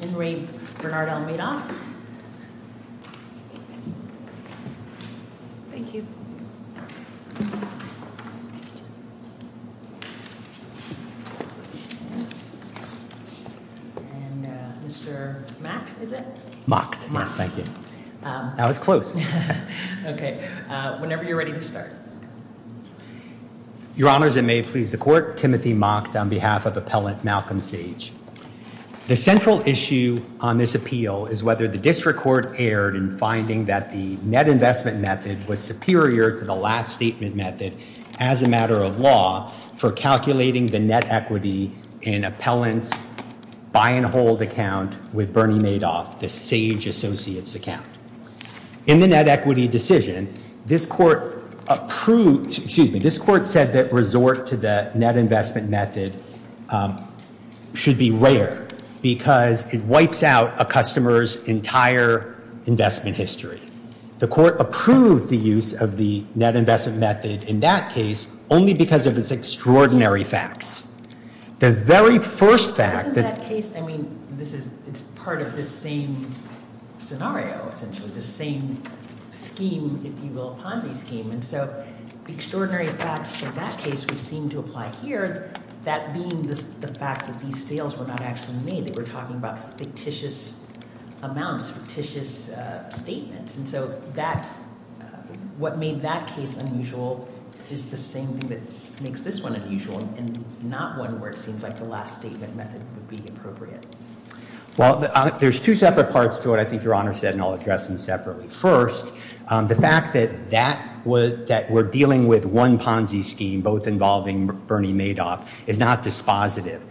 Henry Bernard L. Madoff Your Honors, it may please the Court, Timothy Mocked on behalf of Appellant Malcolm Sage. The central issue on this appeal is whether the district court erred in finding that the net investment method was superior to the last statement method as a matter of law for calculating the net equity in Appellant's buy and hold account with Bernie Madoff, the Sage Associates account. In the net equity decision, this Court approved, excuse me, this Court said that resort to the net investment method should be rare because it wipes out a customer's entire investment history. The Court approved the use of the net investment method in that case only because of its extraordinary facts. The very first fact that- This is that case, I mean, this is, it's part of the same scenario, essentially, the same scheme, if you will, Ponzi scheme. And so the extraordinary facts for that case which we seem to apply here, that being the fact that these sales were not actually made, they were talking about fictitious amounts, fictitious statements. And so that, what made that case unusual is the same thing that makes this one unusual and not one where it seems like the last statement method would be appropriate. Well, there's two separate parts to what I think Your Honor said, and I'll address them separately. First, the fact that that was, that we're dealing with one Ponzi scheme, both involving Bernie Madoff, is not dispositive.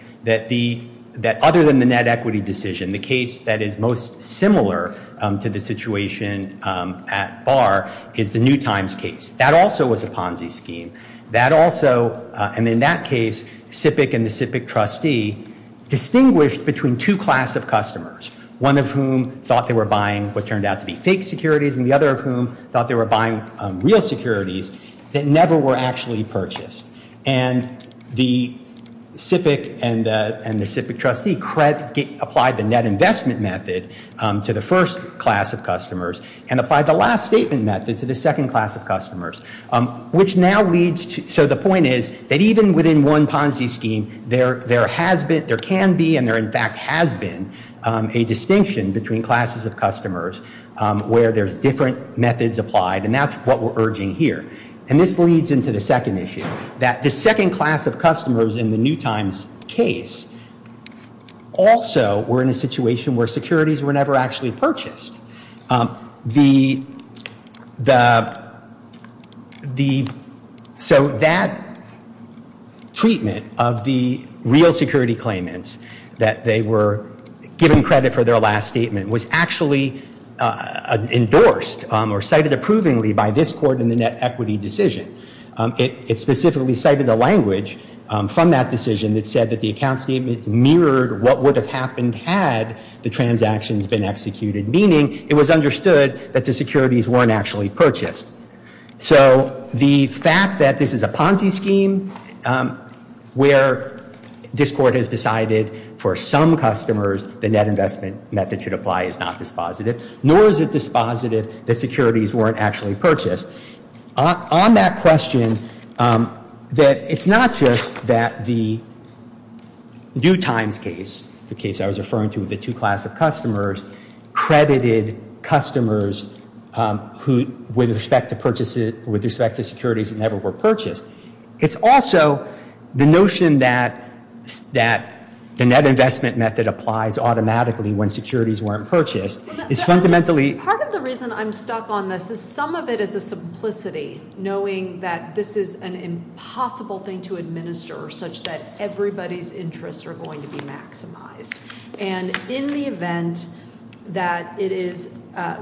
That other than the net equity decision, the case that is most similar to the situation at Barr is the New Times case. That also was a Ponzi scheme. That also, and in that case, Sipic and the Sipic trustee distinguished between two class of customers, one of whom thought they were buying what turned out to be fake securities, and the other of whom thought they were buying real securities that never were actually purchased. And the Sipic and the Sipic trustee applied the net investment method to the first class of customers and applied the last statement method to the second class of customers, which now leads to, so the point is that even within one Ponzi scheme, there has been, there can be, and there in fact has been a distinction between classes of customers where there's different methods applied, and that's what we're urging here. And this leads into the second issue, that the second class of customers in the New Times case also were in a situation where securities were never actually purchased. So that treatment of the real security claimants that they were given credit for their last statement was actually endorsed or cited approvingly by this court in the net equity decision. It specifically cited the language from that decision that said that the account statements mirrored what would have happened had the transactions been executed, meaning it was understood that the securities weren't actually purchased. So the fact that this is a Ponzi scheme where this court has decided for some customers the net investment method should apply is not dispositive, nor is it dispositive that securities weren't actually purchased. On that question, that it's not just that the New Times case, the case I was referring to with the two class of customers, credited customers who, with respect to purchases, with respect to securities that never were purchased, it's also the notion that the net investment method works automatically when securities weren't purchased. It's fundamentally. Part of the reason I'm stuck on this is some of it is a simplicity, knowing that this is an impossible thing to administer such that everybody's interests are going to be maximized. And in the event that it is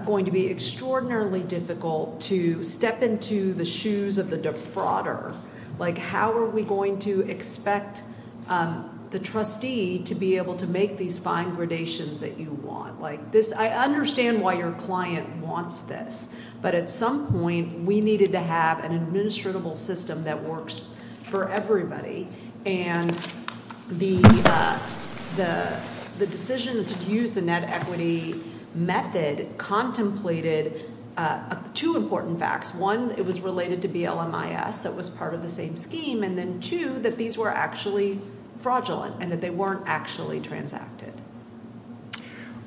going to be extraordinarily difficult to step into the shoes of the defrauder, like how are we going to expect the trustee to be able to make these fine gradations that you want? I understand why your client wants this, but at some point we needed to have an administrable system that works for everybody. And the decision to use the net equity method contemplated two important facts. One, it was related to BLMIS, so it was part of the same scheme. And then two, that these were actually fraudulent and that they weren't actually transacted.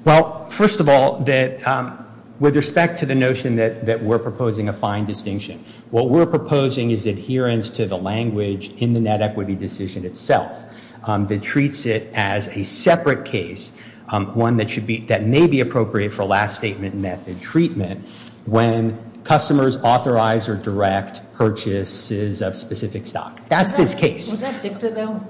Well, first of all, with respect to the notion that we're proposing a fine distinction, what we're proposing is adherence to the language in the net equity decision itself that treats it as a separate case, one that may be appropriate for last statement method treatment when customers authorize or direct purchases of specific stock. That's this case. Was that dicta though?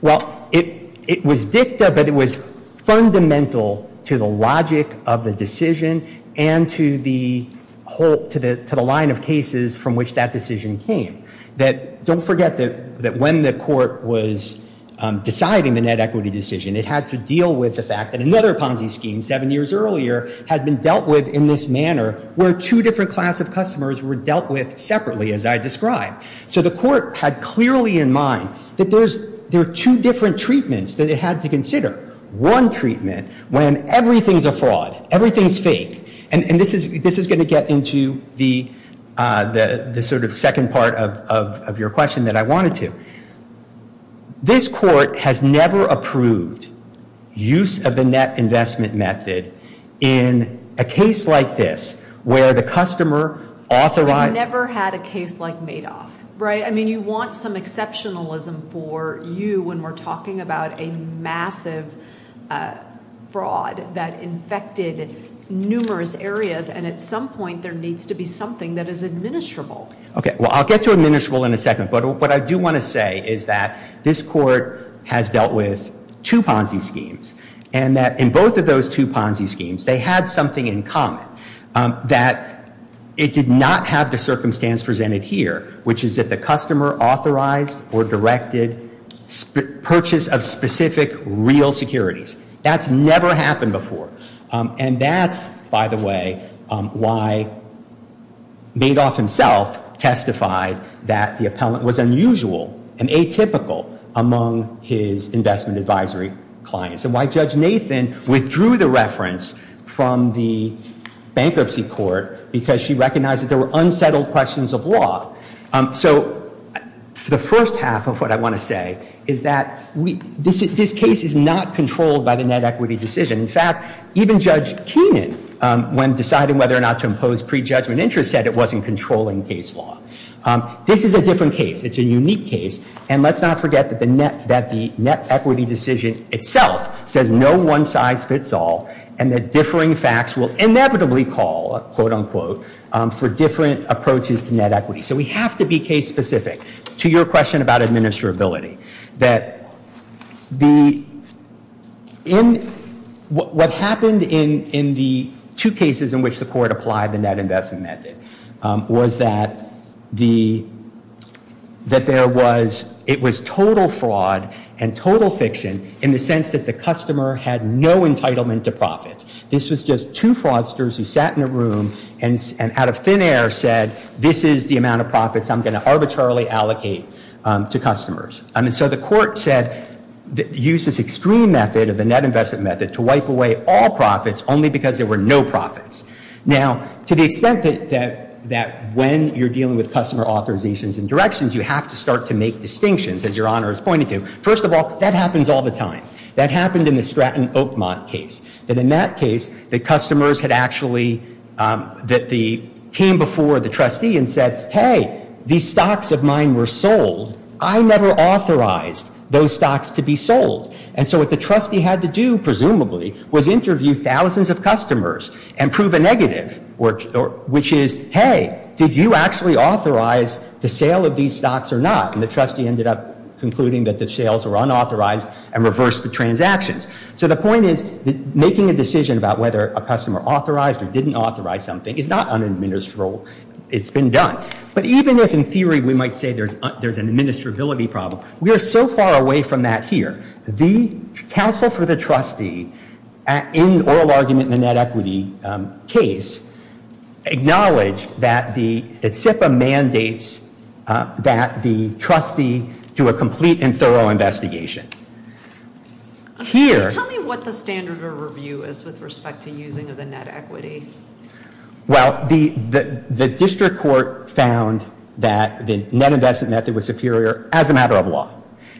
Well, it was dicta, but it was fundamental to the logic of the decision and to the whole, to the line of cases from which that decision came. That don't forget that when the court was deciding the net equity decision, it had to deal with the fact that another Ponzi scheme seven years earlier had been dealt with in this manner where two different class of customers were dealt with separately as I described. So the court had clearly in mind that there are two different treatments that it had to consider. One treatment when everything's a fraud, everything's fake, and this is gonna get into the sort of second part of your question that I wanted to. This court has never approved use of the net investment method in a case like this where the customer authorized. We've never had a case like Madoff, right? I mean, you want some exceptionalism for you when we're talking about a massive fraud that infected numerous areas and at some point there needs to be something that is administrable. Okay, well, I'll get to administrable in a second, but what I do wanna say is that this court has dealt with two Ponzi schemes and that in both of those two Ponzi schemes, they had something in common that it did not have the circumstance presented here, which is that the customer authorized or directed purchase of specific real securities. That's never happened before. And that's, by the way, why Madoff himself testified that the appellant was unusual and atypical among his investment advisory clients and why Judge Nathan withdrew the reference from the bankruptcy court because she recognized that there were unsettled questions of law. So the first half of what I wanna say is that this case is not controlled by the net equity decision. In fact, even Judge Keenan, when deciding whether or not to impose pre-judgment interest, said it wasn't controlling case law. This is a different case, it's a unique case, and let's not forget that the net equity decision itself says no one size fits all and that differing facts will inevitably call, quote unquote, for different approaches to net equity. So we have to be case specific to your question about administrability. What happened in the two cases in which the court applied the net investment method was that there was, it was total fraud and total fiction in the sense that the customer had no entitlement to profits. This was just two fraudsters who sat in a room and out of thin air said, this is the amount of profits I'm gonna arbitrarily allocate to customers. I mean, so the court said, use this extreme method of the net investment method to wipe away all profits only because there were no profits. Now, to the extent that when you're dealing with customer authorizations and directions, you have to start to make distinctions, as your honor is pointing to. First of all, that happens all the time. That happened in the Stratton Oakmont case. That in that case, the customers had actually, that the, came before the trustee and said, hey, these stocks of mine were sold. I never authorized those stocks to be sold. And so what the trustee had to do, presumably, was interview thousands of customers and prove a negative, which is, hey, did you actually authorize the sale of these stocks or not? And the trustee ended up concluding that the sales were unauthorized and reversed the transactions. So the point is, making a decision about whether a customer authorized or didn't authorize something is not unadministerable. It's been done. But even if, in theory, we might say there's an administrability problem, we are so far away from that here. The counsel for the trustee, in oral argument in the net equity case, acknowledged that the, that SIPA mandates that the trustee do a complete and thorough investigation. Here. Tell me what the standard of review is with respect to using of the net equity. Well, the district court found that the net investment method was superior as a matter of law.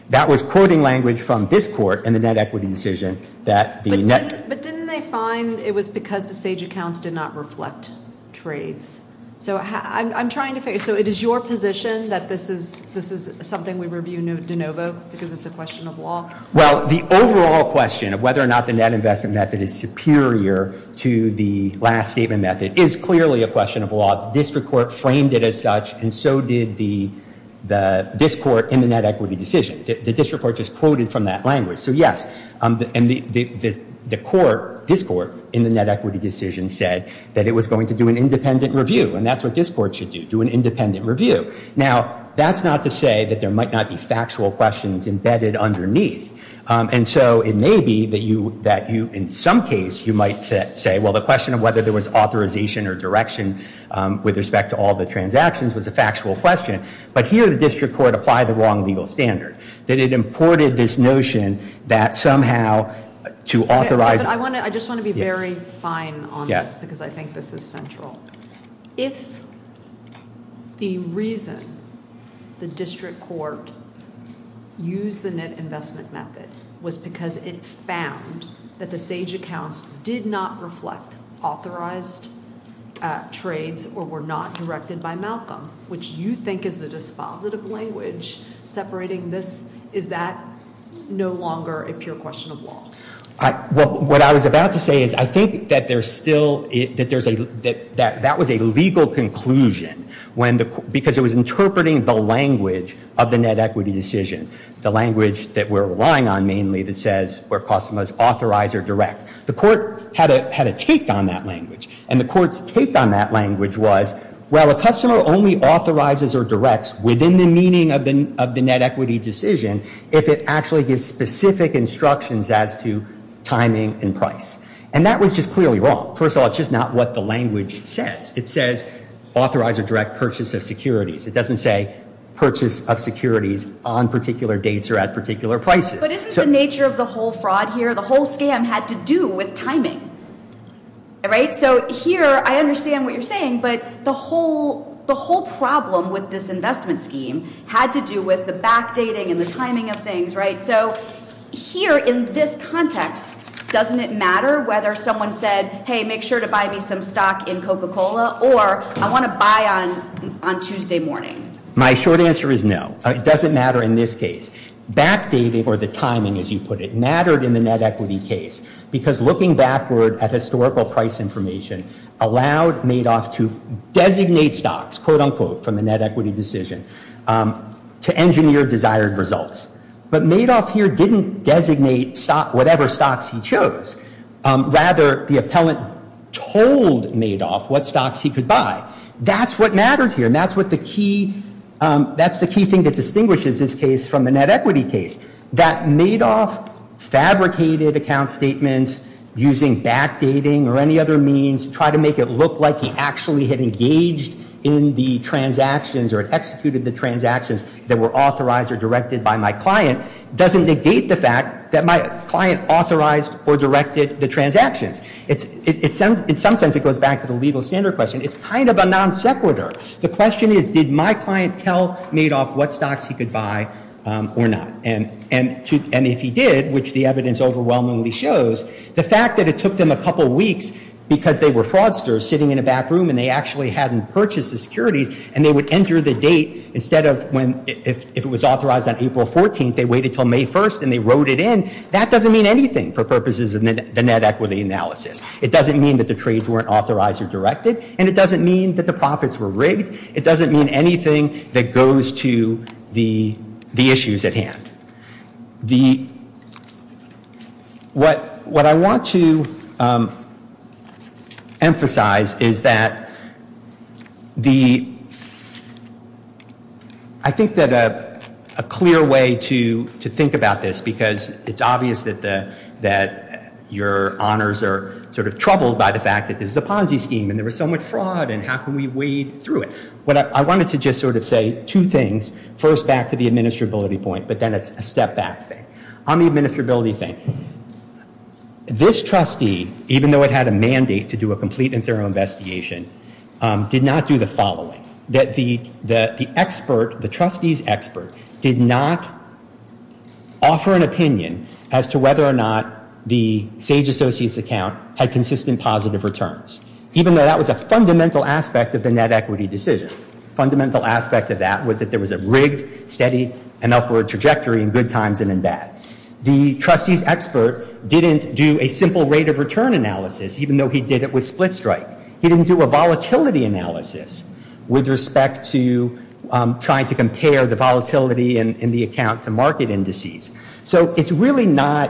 That was quoting language from this court in the net equity decision that the net. But didn't they find it was because the SAGE accounts did not reflect trades? So I'm trying to figure, so it is your position that this is something we review de novo because it's a question of law? Well, the overall question of whether or not the net investment method is superior to the last statement method is clearly a question of law. The district court framed it as such and so did the, this court in the net equity decision. The district court just quoted from that language. So yes, and the court, this court, in the net equity decision said that it was going to do an independent review and that's what this court should do, do an independent review. Now, that's not to say that there might not be factual questions embedded underneath. And so it may be that you, in some case, you might say, well, the question of whether there was authorization or direction with respect to all the transactions was a factual question, but here the district court applied the wrong legal standard. That it imported this notion that somehow to authorize. I just want to be very fine on this because I think this is central. If the reason the district court used the net investment method was because it found that the SAGE accounts did not reflect authorized trades or were not directed by Malcolm, which you think is a dispositive language separating this, is that no longer a pure question of law? Well, what I was about to say is I think that there's still, that there's a, that was a legal conclusion when the, because it was interpreting the language of the net equity decision. The language that we're relying on mainly that says where costumers authorize or direct. The court had a take on that language and the court's take on that language was well, a customer only authorizes or directs within the meaning of the net equity decision if it actually gives specific instructions as to timing and price. And that was just clearly wrong. First of all, it's just not what the language says. It says authorize or direct purchase of securities. It doesn't say purchase of securities on particular dates or at particular prices. But isn't the nature of the whole fraud here, the whole scam had to do with timing, right? So here, I understand what you're saying, but the whole problem with this investment scheme had to do with the backdating and the timing of things, right, so here in this context, doesn't it matter whether someone said, hey, make sure to buy me some stock in Coca-Cola or I want to buy on Tuesday morning? My short answer is no, it doesn't matter in this case. Backdating or the timing as you put it mattered in the net equity case because looking backward at historical price information allowed Madoff to designate stocks, quote unquote, from the net equity decision to engineer desired results. But Madoff here didn't designate whatever stocks he chose. Rather, the appellant told Madoff what stocks he could buy. That's what matters here and that's what the key, that's the key thing that distinguishes this case from the net equity case, that Madoff fabricated account statements using backdating or any other means, tried to make it look like he actually had engaged in the transactions or executed the transactions that were authorized or directed by my client, doesn't negate the fact that my client authorized or directed the transactions. It's, in some sense, it goes back to the legal standard question. It's kind of a non sequitur. The question is, did my client tell Madoff what stocks he could buy or not? And if he did, which the evidence overwhelmingly shows, the fact that it took them a couple weeks because they were fraudsters sitting in a back room and they actually hadn't purchased the securities and they would enter the date instead of when, if it was authorized on April 14th, they waited till May 1st and they wrote it in, that doesn't mean anything for purposes of the net equity analysis. It doesn't mean that the trades weren't authorized or directed and it doesn't mean that the profits were rigged. It doesn't mean anything that goes to the issues at hand. What I want to emphasize is that I think that a clear way to think about this because it's obvious that your honors are sort of troubled by the fact that this is a Ponzi scheme and there was so much fraud and how can we wade through it? I wanted to just sort of say two things. First, back to the administrability point, but then it's a step back thing. On the administrability thing, this trustee, even though it had a mandate to do a complete and thorough investigation, did not do the following. That the expert, the trustee's expert, did not offer an opinion as to whether or not the Sage Associates account had consistent positive returns. Even though that was a fundamental aspect of the net equity decision. Fundamental aspect of that was that there was a rigged, steady, and upward trajectory in good times and in bad. The trustee's expert didn't do a simple rate of return analysis, even though he did it with split strike. He didn't do a volatility analysis with respect to trying to compare the volatility in the account to market indices. So it's really not,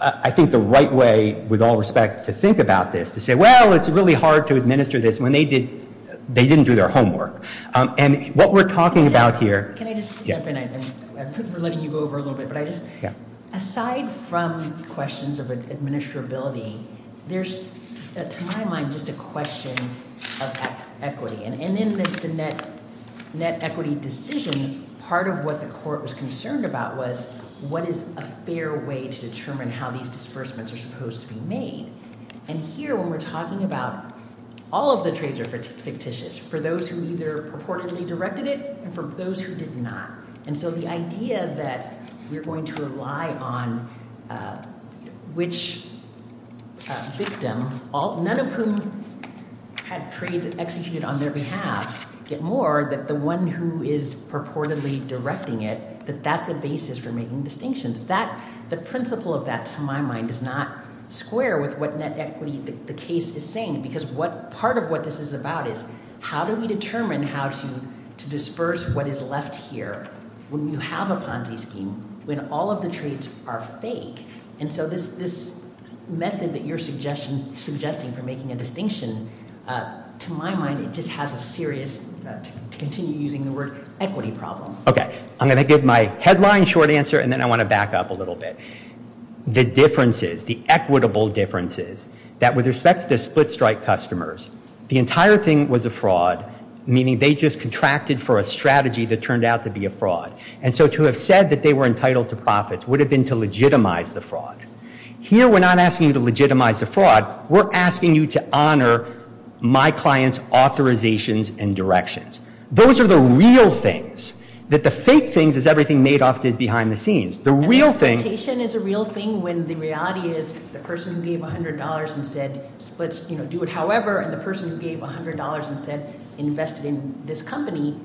I think, the right way, with all respect, to think about this. To say, well, it's really hard to administer this when they didn't do their homework. And what we're talking about here. Can I just jump in? I'm letting you go over a little bit. Aside from questions of administrability, there's, to my mind, just a question of equity. And in the net equity decision, part of what the court was concerned about was what is a fair way to determine how these disbursements are supposed to be made? And here, when we're talking about, all of the trades are fictitious. For those who either purportedly directed it, and for those who did not. And so the idea that we're going to rely on which victim, none of whom had trades executed on their behalf, yet more, that the one who is purportedly directing it, that that's a basis for making distinctions. The principle of that, to my mind, does not square with what net equity the case is saying. Because part of what this is about is, how do we determine how to disperse what is left here when you have a Ponzi scheme, when all of the trades are fake? And so this method that you're suggesting for making a distinction, to my mind, it just has a serious, to continue using the word, equity problem. Okay, I'm going to give my headline short answer, and then I want to back up a little bit. The differences, the equitable differences, that with respect to the split-strike customers, the entire thing was a fraud, meaning they just contracted for a strategy that turned out to be a fraud. And so to have said that they were entitled to profits would have been to legitimize the fraud. Here, we're not asking you to legitimize the fraud, we're asking you to honor my client's authorizations and directions. Those are the real things. That the fake things is everything Madoff did behind the scenes. And exploitation is a real thing when the reality is the person who gave $100 and said, let's do it however, and the person who gave $100 and said, invest it in this company,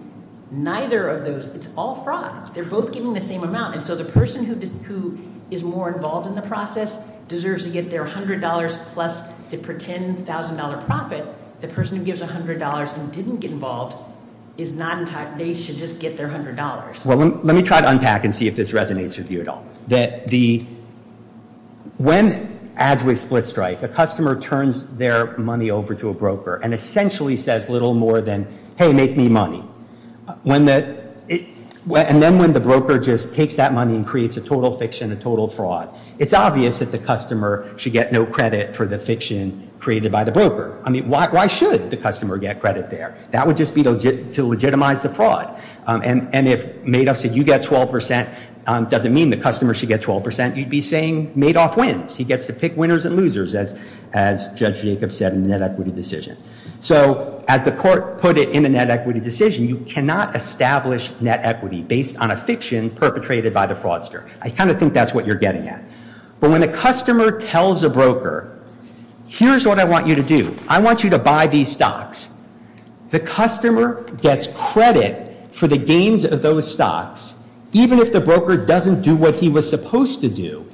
neither of those, it's all fraud. They're both giving the same amount. And so the person who is more involved in the process deserves to get their $100 plus the pretend $1,000 profit. The person who gives $100 and didn't get involved is not entitled, they should just get their $100. Well, let me try to unpack and see if this resonates with you at all. As we split strike, the customer turns their money over to a broker and essentially says little more than, hey, make me money. And then when the broker just takes that money and creates a total fiction, a total fraud, it's obvious that the customer should get no credit for the fiction created by the broker. I mean, why should the customer get credit there? That would just be to legitimize the fraud. And if Madoff said you get 12%, doesn't mean the customer should get 12%, you'd be saying Madoff wins. He gets to pick winners and losers, as Judge Jacobs said in the net equity decision. So as the court put it in a net equity decision, you cannot establish net equity based on a fiction perpetrated by the fraudster. I kind of think that's what you're getting at. But when a customer tells a broker, here's what I want you to do. I want you to buy these stocks. The customer gets credit for the gains of those stocks, even if the broker doesn't do what he was supposed to do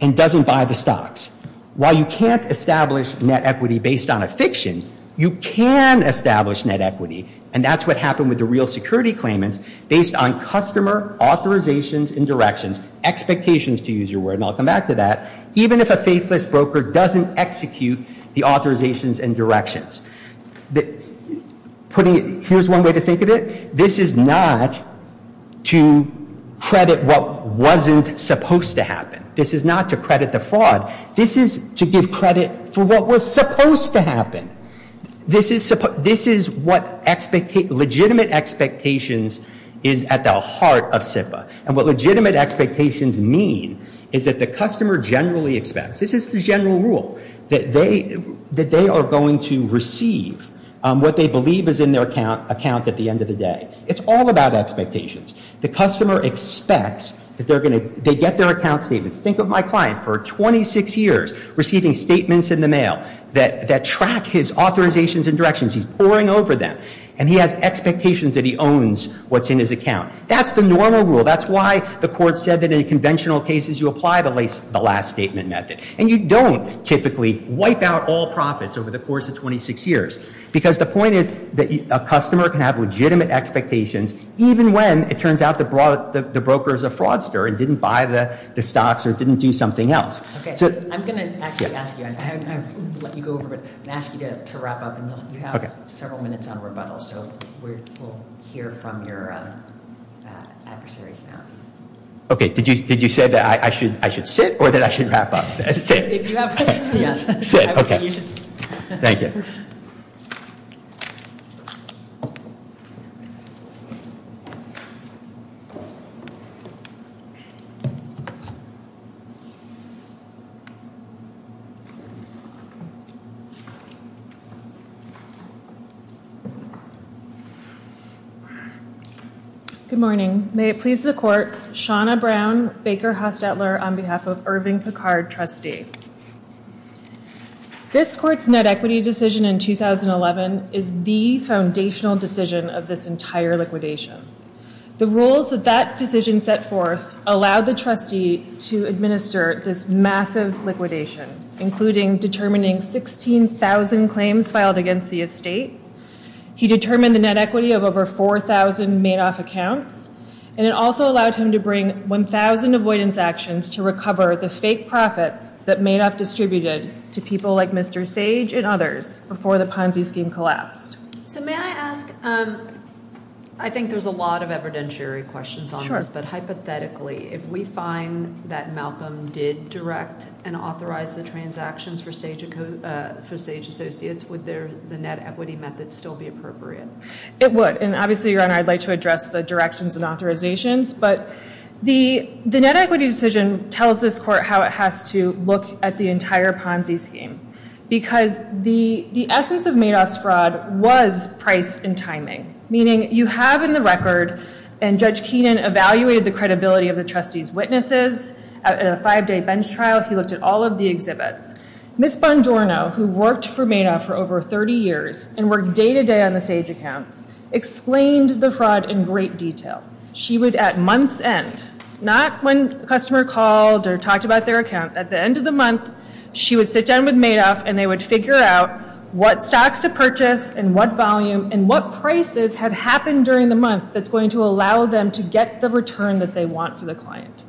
and doesn't buy the stocks. While you can't establish net equity based on a fiction, you can establish net equity, and that's what happened with the real security claimants based on customer authorizations and directions, expectations to use your word, and I'll come back to that, even if a faithless broker doesn't execute the authorizations and directions. That putting it, here's one way to think of it. This is not to credit what wasn't supposed to happen. This is not to credit the fraud. This is to give credit for what was supposed to happen. This is what legitimate expectations is at the heart of SIPA. And what legitimate expectations mean is that the customer generally expects, this is the general rule, that they are going to receive what they believe is in their account at the end of the day. It's all about expectations. The customer expects that they're gonna, they get their account statements. Think of my client for 26 years receiving statements in the mail that track his authorizations and directions. He's poring over them, and he has expectations that he owns what's in his account. That's the normal rule. That's why the court said that in conventional cases you apply the last statement method, and you don't typically wipe out all profits over the course of 26 years. Because the point is that a customer can have legitimate expectations even when it turns out the broker's a fraudster and didn't buy the stocks or didn't do something else. So. I'm gonna actually ask you, I'm gonna let you go over, but I'm gonna ask you to wrap up. And you have several minutes on rebuttal, so we'll hear from your adversaries now. Okay, did you say that I should sit or that I should wrap up? If you have to. Yes. Sit, okay. You should sit. Thank you. Good morning. May it please the court, Shawna Brown, Baker Hostetler on behalf of Irving Picard, trustee. This court's net equity decision in 2011 is the foundational decision of this entire liquidation. The rules that that decision set forth allowed the trustee to administer this massive liquidation, including determining 16,000 claims filed against the estate. He determined the net equity of over 4,000 made off accounts. And it also allowed him to bring 1,000 avoidance actions to recover the fake profits that made off distributed to people like Mr. Sage and others before the Ponzi scheme collapsed. So may I ask, I think there's a lot of evidentiary questions on this, but hypothetically, if we find that Malcolm did direct and authorize the transactions for Sage Associates, would the net equity method still be appropriate? It would. And obviously, Your Honor, I'd like to address the directions and authorizations, but the net equity decision tells this court how it has to look at the entire Ponzi scheme, because the essence of Madoff's fraud was price and timing, meaning you have in the record, and Judge Keenan evaluated the credibility of the trustee's witnesses at a five-day bench trial, he looked at all of the exhibits. Ms. Bondorno, who worked for Madoff for over 30 years and worked day-to-day on the Sage accounts, explained the fraud in great detail. She would, at month's end, not when a customer called or talked about their accounts, at the end of the month, she would sit down with Madoff and they would figure out what stocks to purchase and what volume and what prices had happened during the month that's going to allow them to get the return that they want for the client.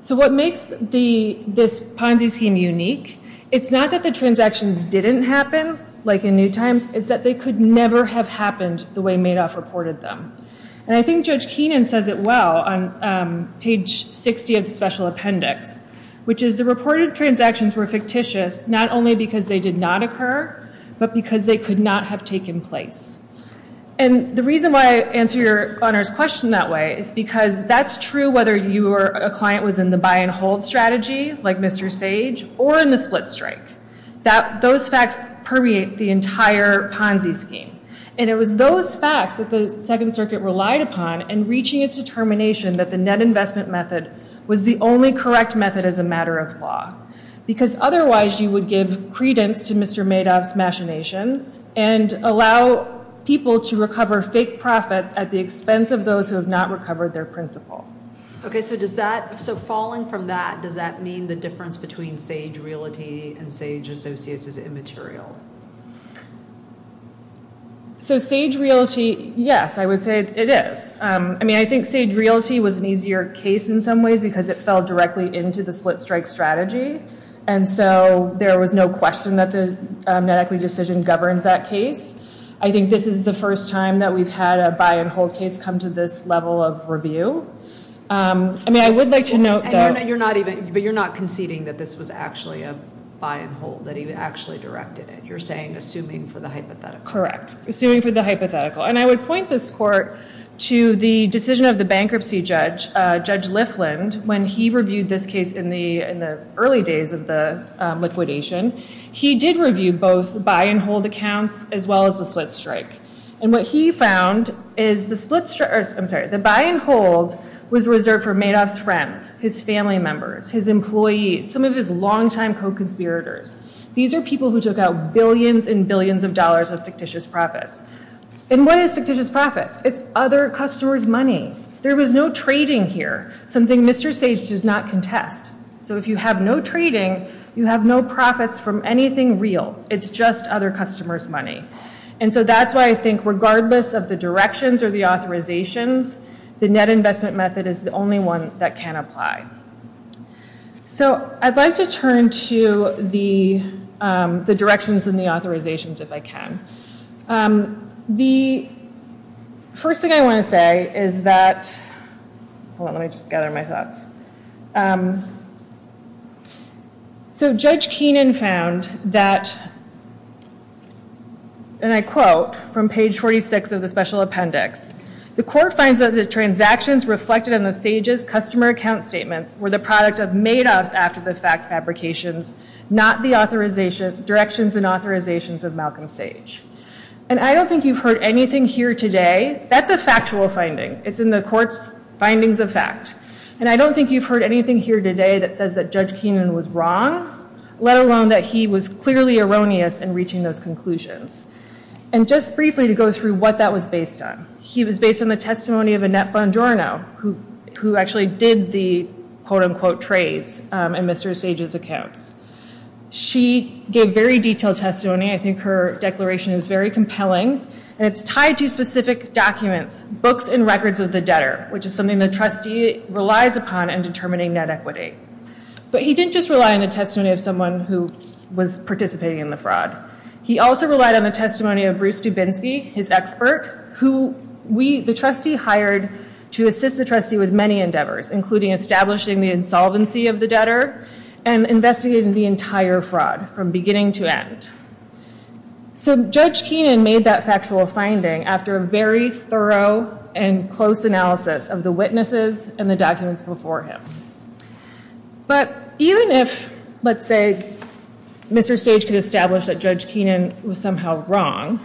So what makes this Ponzi scheme unique, it's not that the transactions didn't happen, like in New Times, it's that they could never have happened the way Madoff reported them. And I think Judge Keenan says it well on page 60 of the special appendix, which is the reported transactions were fictitious not only because they did not occur, but because they could not have taken place. And the reason why I answer your Honor's question that way is because that's true whether you or a client was in the buy and hold strategy, like Mr. Sage, or in the split strike, that those facts permeate the entire Ponzi scheme. And it was those facts that the Second Circuit relied upon and reaching its determination that the net investment method was the only correct method as a matter of law. Because otherwise you would give credence to Mr. Madoff's machinations and allow people to recover fake profits at the expense of those who have not recovered their principal. Okay, so falling from that, does that mean the difference between Sage Realty and Sage Associates is immaterial? So Sage Realty, yes, I would say it is. I mean, I think Sage Realty was an easier case in some ways because it fell directly into the split strike strategy. And so there was no question that the net equity decision governed that case. I think this is the first time that we've had a buy and hold case come to this level of review. I mean, I would like to note that- You're not even, but you're not conceding that this was actually a buy and hold, that he actually directed it. You're saying, assuming for the hypothetical. Correct, assuming for the hypothetical. And I would point this court to the decision of the bankruptcy judge, Judge Lifland, when he reviewed this case in the early days of the liquidation, he did review both buy and hold accounts as well as the split strike. And what he found is the split strike, I'm sorry, the buy and hold was reserved for Madoff's friends, his family members, his employees, some of his longtime co-conspirators. These are people who took out billions and billions of dollars of fictitious profits. And what is fictitious profits? It's other customers' money. There was no trading here, something Mr. Sage does not contest. So if you have no trading, you have no profits from anything real. It's just other customers' money. And so that's why I think regardless of the directions or the authorizations, the net investment method is the only one that can apply. So I'd like to turn to the directions and the authorizations if I can. The first thing I want to say is that, hold on, let me just gather my thoughts. So Judge Keenan found that, and I quote from page 46 of the special appendix, the court finds that the transactions reflected in the Sage's customer account statements were the product of Madoff's after the fact fabrications, not the directions and authorizations of Malcolm Sage. And I don't think you've heard anything here today, that's a factual finding, it's in the court's findings of fact. And I don't think you've heard anything here today that says that Judge Keenan was wrong, let alone that he was clearly erroneous in reaching those conclusions. And just briefly to go through what that was based on. He was based on the testimony of Annette Bongiorno, who actually did the quote unquote trades in Mr. Sage's accounts. She gave very detailed testimony, I think her declaration is very compelling, and it's tied to specific documents, books and records of the debtor, which is something the trustee relies upon in determining net equity. But he didn't just rely on the testimony of someone who was participating in the fraud. He also relied on the testimony of Bruce Dubinsky, his expert, who the trustee hired to assist the trustee with many endeavors, including establishing the insolvency of the debtor, and investigating the entire fraud from beginning to end. So Judge Keenan made that factual finding after a very thorough and close analysis of the witnesses and the documents before him. But even if, let's say, Mr. Sage could establish that Judge Keenan was somehow wrong,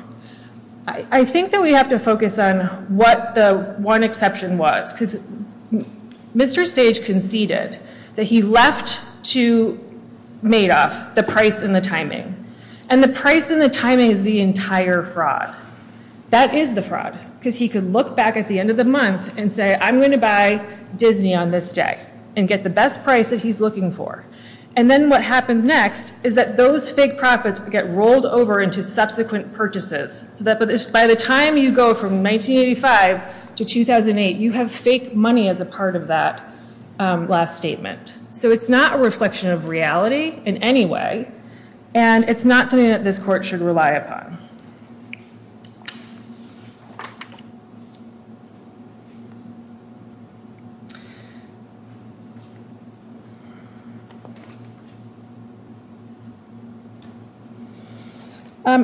I think that we have to focus on what the one exception was, because Mr. Sage conceded that he left to Madoff the price and the timing. And the price and the timing is the entire fraud. That is the fraud, because he could look back at the end of the month and say, I'm going to buy Disney on this day, and get the best price that he's looking for. And then what happens next is that those fake profits get rolled over into subsequent purchases, so that by the time you go from 1985 to 2008, you have fake money as a part of that last statement. So it's not a reflection of reality in any way, and it's not something that this court should rely upon.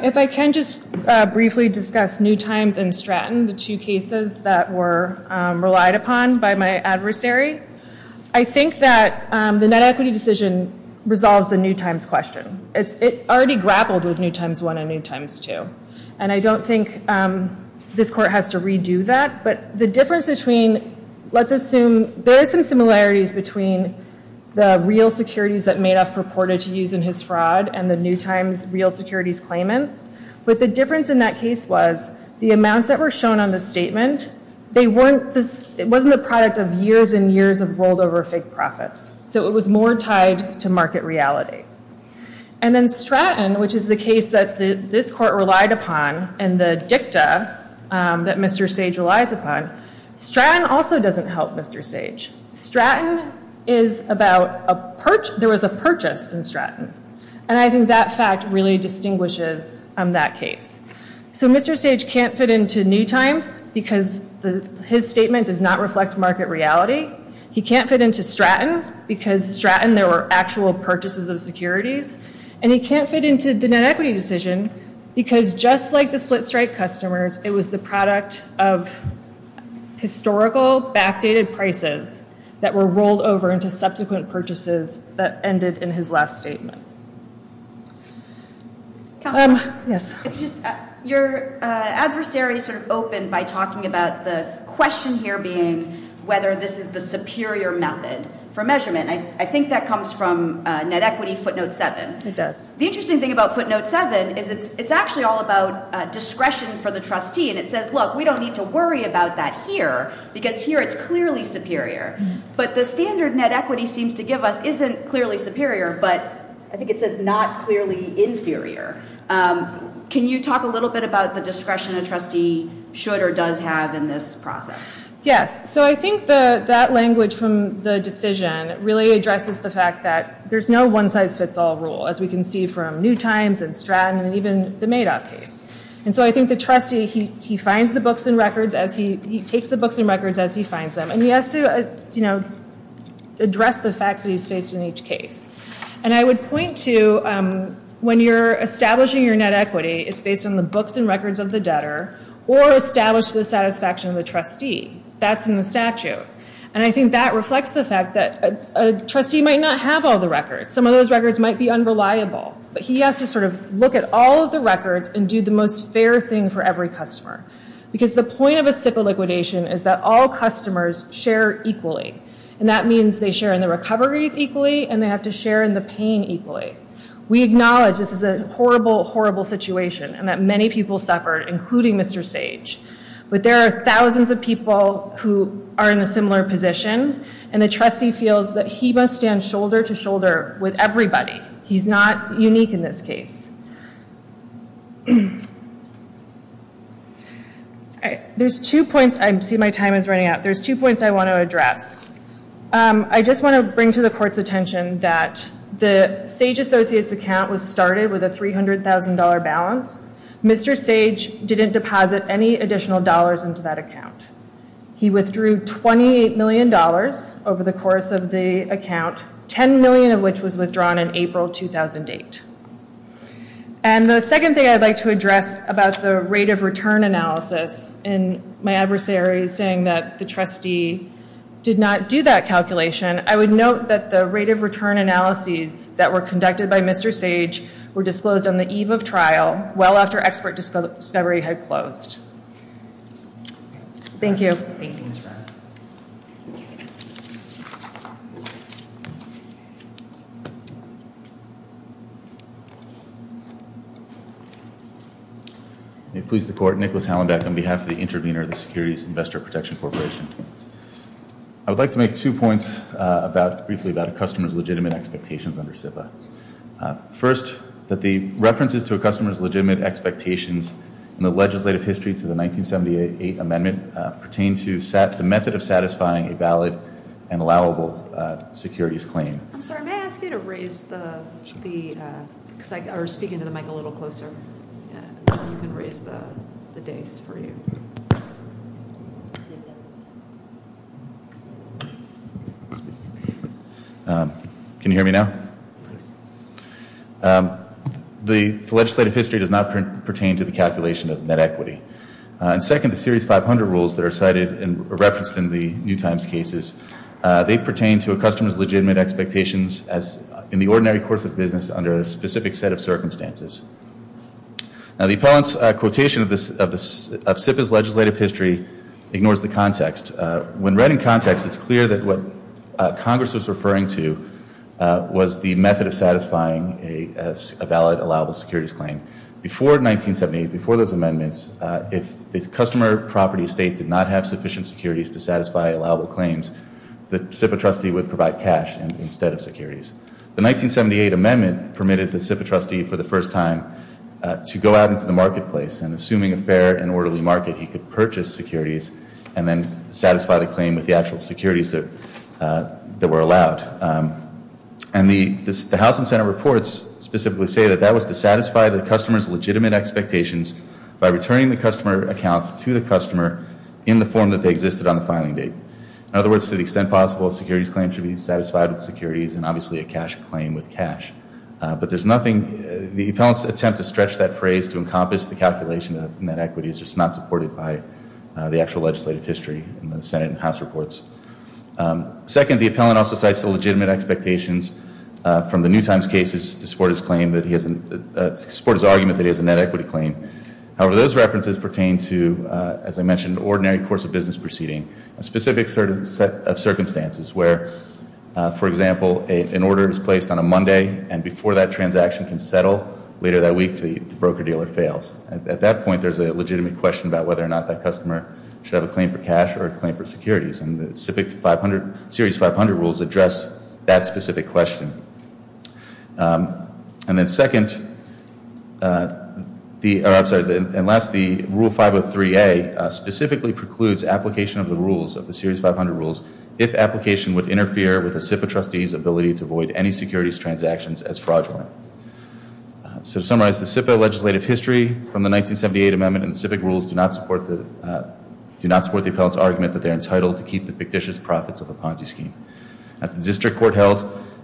If I can just briefly discuss New Times and Stratton, the two cases that were relied upon by my adversary, I think that the net equity decision resolves the New Times question. It already grappled with New Times 1 and New Times 2. And I don't think this court has to redo that, but the difference between, let's assume, there are some similarities between the real securities that Madoff purported to use in his fraud and the New Times real securities claimants, but the difference in that case was the amounts that were shown on the statement, they weren't the product of years and years of rolled over fake profits. So it was more tied to market reality. And then Stratton, which is the case that this court relied upon, and the dicta that Mr. Sage relies upon, Stratton also doesn't help Mr. Sage. Stratton is about a purchase. There was a purchase in Stratton. And I think that fact really distinguishes that case. So Mr. Sage can't fit into New Times because his statement does not reflect market reality. He can't fit into Stratton because Stratton, there were actual purchases of securities. And he can't fit into the net equity decision because just like the split-strike customers, it was the product of historical backdated prices that were rolled over into subsequent purchases that ended in his last statement. Yes. Your adversary sort of opened by talking about the question here being whether this is the superior method for measurement. I think that comes from net equity footnote seven. It does. The interesting thing about footnote seven is it's actually all about discretion for the trustee and it says, look, we don't need to worry about that here because here it's clearly superior. But the standard net equity seems to give us isn't clearly superior, but it's clearly superior. I think it says not clearly inferior. Can you talk a little bit about the discretion a trustee should or does have in this process? Yes, so I think that language from the decision really addresses the fact that there's no one-size-fits-all rule as we can see from New Times and Stratton and even the Madoff case. And so I think the trustee, he finds the books and records as he, he takes the books and records as he finds them and he has to, you know, address the facts that he's faced in each case. And I would point to when you're establishing your net equity, it's based on the books and records of the debtor or established to the satisfaction of the trustee. That's in the statute. And I think that reflects the fact that a trustee might not have all the records. Some of those records might be unreliable. But he has to sort of look at all of the records and do the most fair thing for every customer. Because the point of a SIPA liquidation is that all customers share equally. And that means they share in the recoveries equally and they have to share in the pain equally. We acknowledge this is a horrible, horrible situation and that many people suffered, including Mr. Sage. But there are thousands of people who are in a similar position and the trustee feels that he must stand shoulder to shoulder with everybody. He's not unique in this case. There's two points, I see my time is running out. There's two points I want to address. I just want to bring to the court's attention that the Sage Associates account was started with a $300,000 balance. Mr. Sage didn't deposit any additional dollars into that account. He withdrew $28 million over the course of the account, 10 million of which was withdrawn in April 2008. And the second thing I'd like to address about the rate of return analysis and my adversary saying that the trustee did not do that calculation. I would note that the rate of return analyses that were conducted by Mr. Sage were disclosed on the eve of trial, well after expert discovery had closed. Thank you. May it please the court, Nicholas Hallenbeck on behalf of the intervener of the Securities Investor Protection Corporation. I would like to make two points briefly about a customer's legitimate expectations under SIPA. First, that the references to a customer's legitimate expectations in the legislative history to the 1978 amendment pertain to the method of satisfying a valid and allowable securities claim. I'm sorry, may I ask you to raise the, because I was speaking to the mic a little closer. You can raise the days for you. I think that's his hand. Can you hear me now? The legislative history does not pertain to the calculation of net equity. And second, the series 500 rules that are cited and referenced in the New Times cases, they pertain to a customer's legitimate expectations as in the ordinary course of business under a specific set of circumstances. Now the appellant's quotation of SIPA's legislative history ignores the context. When read in context, it's clear that what Congress was referring to was the method of satisfying a valid allowable securities claim. Before 1978, before those amendments, if the customer property estate did not have sufficient securities to satisfy allowable claims, the SIPA trustee would provide cash instead of securities. The 1978 amendment permitted the SIPA trustee for the first time to go out into the marketplace and assuming a fair and orderly market, he could purchase securities and then satisfy the claim with the actual securities that were allowed. And the House and Senate reports specifically say that that was to satisfy the customer's legitimate expectations by returning the customer accounts to the customer in the form that they existed on the filing date. In other words, to the extent possible, a securities claim should be satisfied with securities and obviously a cash claim with cash. But there's nothing, the appellant's attempt to stretch that phrase to encompass the calculation of net equity is just not supported by the actual legislative history in the Senate and House reports. Second, the appellant also cites the legitimate expectations from the New Times cases to support his claim, to support his argument that he has a net equity claim. However, those references pertain to, as I mentioned, ordinary course of business proceeding, a specific set of circumstances where, for example, an order is placed on a Monday and before that transaction can settle, later that week the broker-dealer fails. At that point, there's a legitimate question about whether or not that customer should have a claim for cash or a claim for securities. And the SIPC 500, Series 500 rules address that specific question. And then second, I'm sorry, and last, the Rule 503A specifically precludes application of the rules of the Series 500 rules if application would interfere with a SIPA trustee's ability to avoid any securities transactions as fraudulent. So to summarize the SIPA legislative history from the 1978 amendment and the SIPIC rules do not support the appellant's argument that they're entitled to keep the fictitious profits of the Ponzi scheme. As the district court held,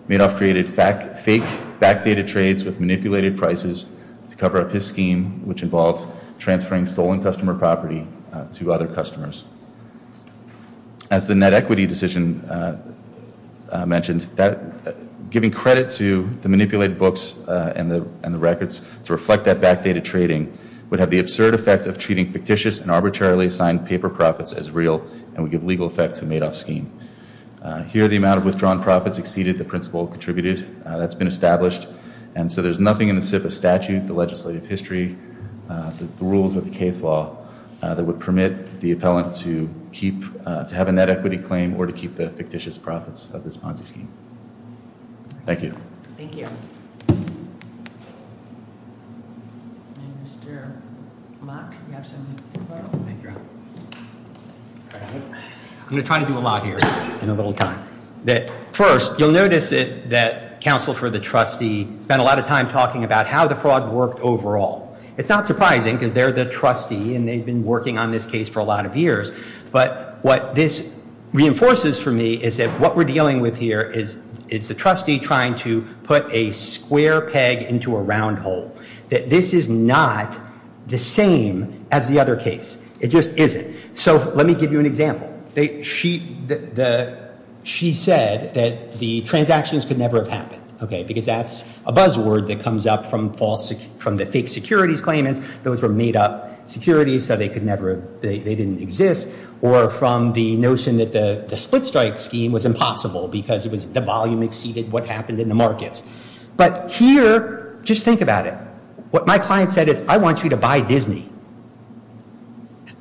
Madoff created fake backdated trades with manipulated prices to cover up his scheme, which involves transferring stolen customer property to other customers. As the net equity decision mentioned, giving credit to the manipulated books and the records to reflect that backdated trading would have the absurd effect of treating fictitious and arbitrarily assigned paper profits as real and would give legal effect to Madoff's scheme. Here, the amount of withdrawn profits exceeded the principal contributed that's been established. And so there's nothing in the SIPA statute, the legislative history, the rules of the case law that would permit the appellant to have a net equity claim or to keep the fictitious profits of this Ponzi scheme. Thank you. Thank you. And Mr. Mock, you have something to say? Thank you. I'm gonna try to do a lot here in a little time. First, you'll notice that counsel for the trustee spent a lot of time talking about how the fraud worked overall. It's not surprising because they're the trustee and they've been working on this case for a lot of years, but what this reinforces for me is that what we're dealing with here is it's the trustee trying to put a square peg into a round hole. That this is not the same as the other case. It just isn't. So let me give you an example. She said that the transactions could never have happened, okay, because that's a buzzword that comes up from the fake securities claimants. Those were made up securities, so they didn't exist, or from the notion that the split strike scheme was impossible because the volume exceeded what happened in the markets. But here, just think about it. What my client said is, I want you to buy Disney.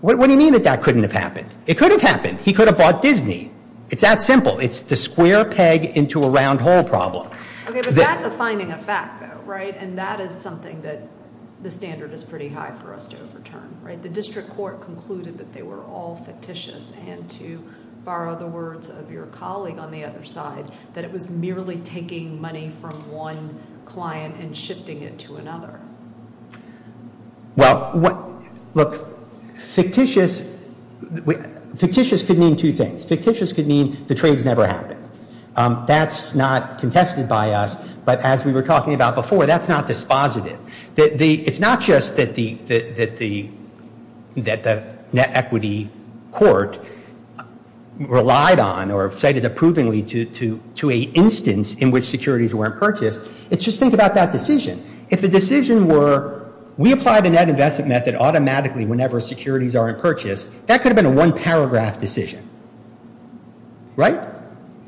What do you mean that that couldn't have happened? It could have happened. He could have bought Disney. It's that simple. It's the square peg into a round hole problem. Okay, but that's a finding of fact though, right? And that is something that the standard is pretty high for us to overturn, right? The district court concluded that they were all fictitious, and to borrow the words of your colleague on the other side, that it was merely taking money from one client and shifting it to another. Well, look, fictitious, fictitious could mean two things. Fictitious could mean the trades never happened. That's not contested by us, but as we were talking about before, that's not dispositive. It's not just that the net equity court relied on or cited approvingly to a instance in which securities weren't purchased. It's just think about that decision. If the decision were, we apply the net investment method automatically whenever securities aren't purchased, that could have been a one paragraph decision, right?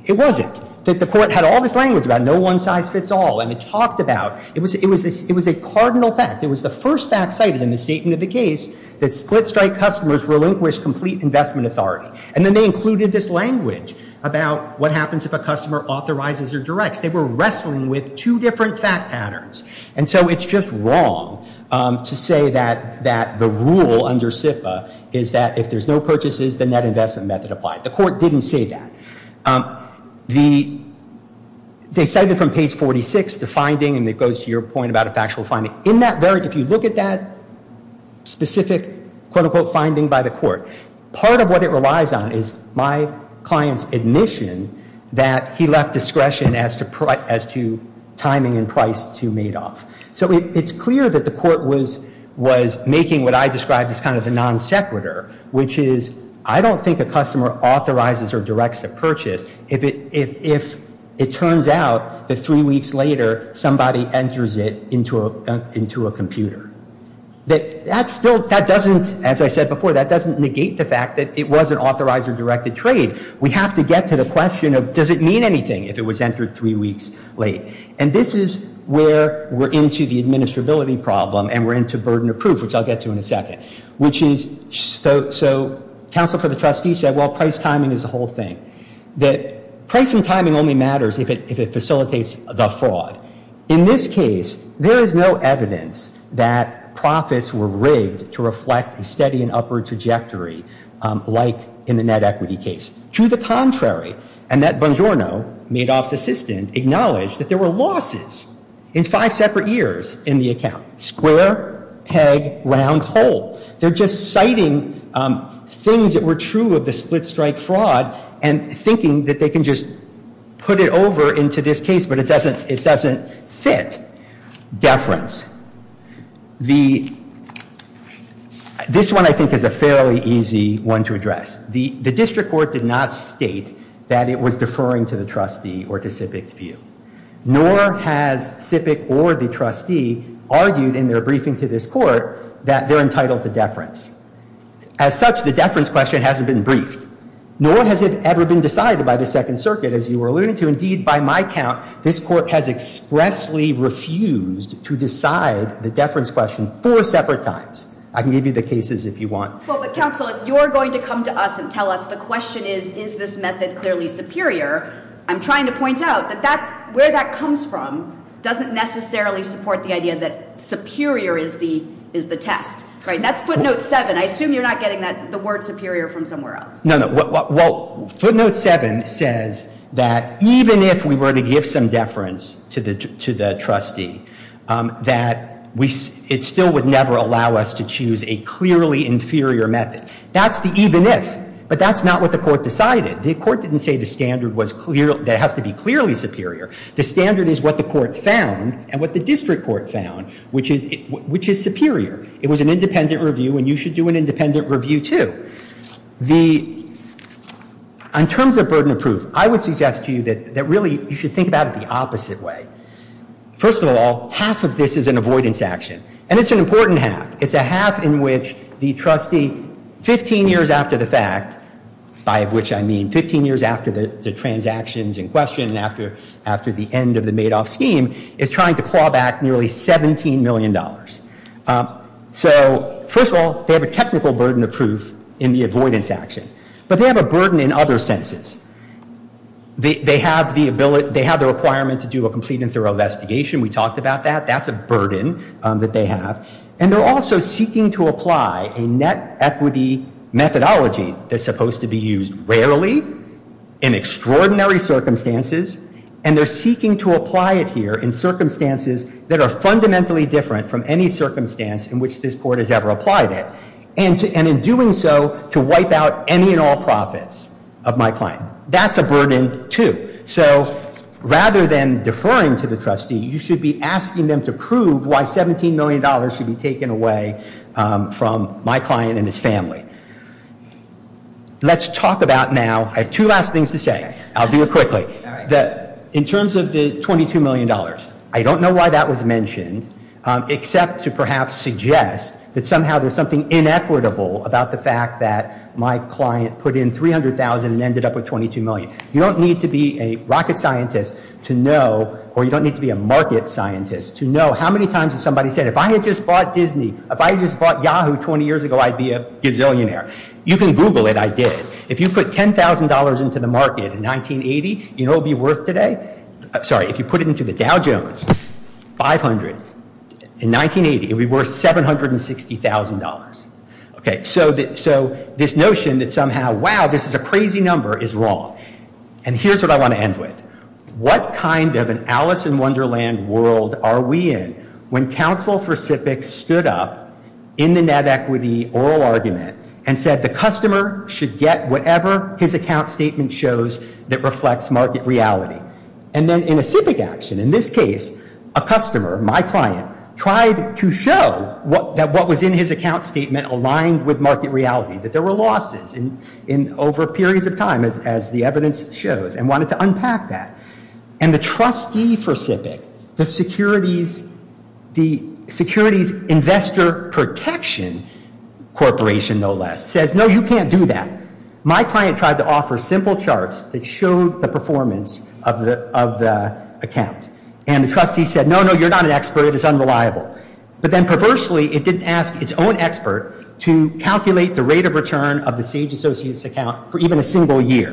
It wasn't. That the court had all this language about no one size fits all, and it talked about, it was a cardinal fact. It was the first fact cited in the statement of the case that split strike customers relinquish complete investment authority, and then they included this language about what happens if a customer authorizes or directs. They were wrestling with two different fact patterns, and so it's just wrong to say that the rule under SIPA is that if there's no purchases, the net investment method applied. The court didn't say that. They cited from page 46, the finding, and it goes to your point about a factual finding. In that very, if you look at that specific quote unquote finding by the court, part of what it relies on is my client's admission that he left discretion as to timing and price to Madoff. So it's clear that the court was making what I described as kind of the non sequitur, which is I don't think a customer authorizes or directs a purchase if it turns out that three weeks later, somebody enters it into a computer. That still, that doesn't, as I said before, that doesn't negate the fact that it was an authorized or directed trade. We have to get to the question of does it mean anything if it was entered three weeks late? And this is where we're into the administrability problem, and we're into burden of proof, which I'll get to in a second, which is, so counsel for the trustee said, well, price timing is a whole thing. That price and timing only matters if it facilitates the fraud. In this case, there is no evidence that profits were rigged to reflect a steady and upward trajectory like in the net equity case. To the contrary, Annette Bongiorno, Madoff's assistant, acknowledged that there were losses in five separate years in the account. Square, peg, round, hole. They're just citing things that were true of the split strike fraud, and thinking that they can just put it over into this case, but it doesn't fit. Deference. This one, I think, is a fairly easy one to address. The district court did not state that it was deferring to the trustee or to SIPC's view, nor has SIPC or the trustee argued in their briefing to this court that they're entitled to deference. As such, the deference question hasn't been briefed, nor has it ever been decided by the Second Circuit, as you were alluding to. Indeed, by my count, this court has expressly refused to decide the deference question four separate times. I can give you the cases if you want. Well, but counsel, if you're going to come to us and tell us the question is, is this method clearly superior, I'm trying to point out that where that comes from doesn't necessarily support the idea that superior is the test, right? That's footnote seven. I assume you're not getting the word superior from somewhere else. Well, footnote seven says that even if we were to give some deference to the trustee, that it still would never allow us to choose a clearly inferior method. That's the even if, but that's not what the court decided. The court didn't say the standard that has to be clearly superior. The standard is what the court found and what the district court found, which is superior. It was an independent review and you should do an independent review too. The, in terms of burden of proof, I would suggest to you that really, you should think about it the opposite way. First of all, half of this is an avoidance action and it's an important half. It's a half in which the trustee, 15 years after the fact, by which I mean, 15 years after the transactions in question and after the end of the Madoff scheme is trying to claw back nearly $17 million. So, first of all, they have a technical burden of proof in the avoidance action, but they have a burden in other senses. They have the ability, they have the requirement to do a complete and thorough investigation. We talked about that. That's a burden that they have and they're also seeking to apply a net equity methodology that's supposed to be used rarely in extraordinary circumstances and they're seeking to apply it here in circumstances that are fundamentally different from any circumstance in which this court has ever applied it. And in doing so, to wipe out any and all profits of my client. That's a burden, too. So, rather than deferring to the trustee, you should be asking them to prove why $17 million should be taken away from my client and his family. Let's talk about now, I have two last things to say. I'll do it quickly. That in terms of the $22 million, I don't know why that was mentioned except to perhaps suggest that somehow there's something inequitable about the fact that my client put in 300,000 and ended up with 22 million. You don't need to be a rocket scientist to know or you don't need to be a market scientist to know how many times has somebody said, if I had just bought Disney, if I just bought Yahoo 20 years ago, I'd be a gazillionaire. You can Google it, I did. If you put $10,000 into the market in 1980, you know what it would be worth today? Sorry, if you put it into the Dow Jones, 500, in 1980, it would be worth $760,000. Okay, so this notion that somehow, wow, this is a crazy number is wrong. And here's what I want to end with. What kind of an Alice in Wonderland world are we in when counsel for SIPC stood up in the net equity oral argument and said the customer should get whatever his account statement shows that reflects market reality. And then in a SIPC action, in this case, a customer, my client, tried to show that what was in his account statement aligned with market reality, that there were losses over periods of time as the evidence shows and wanted to unpack that. And the trustee for SIPC, the Securities Investor Protection Corporation, no less, says, no, you can't do that. My client tried to offer simple charts that showed the performance of the account. And the trustee said, no, no, you're not an expert, it's unreliable. But then perversely, it didn't ask its own expert to calculate the rate of return of the Sage Associates account for even a single year.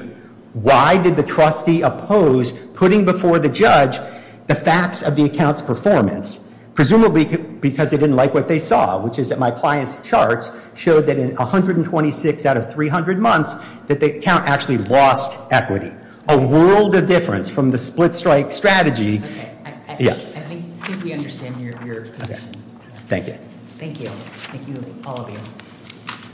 Why did the trustee oppose putting before the judge the facts of the account's performance? Presumably because they didn't like what they saw, which is that my client's charts showed that in 126 out of 300 months, that the account actually lost equity. A world of difference from the split-strike strategy. Okay, I think we understand your position. Thank you. Thank you. Thank you, all of you.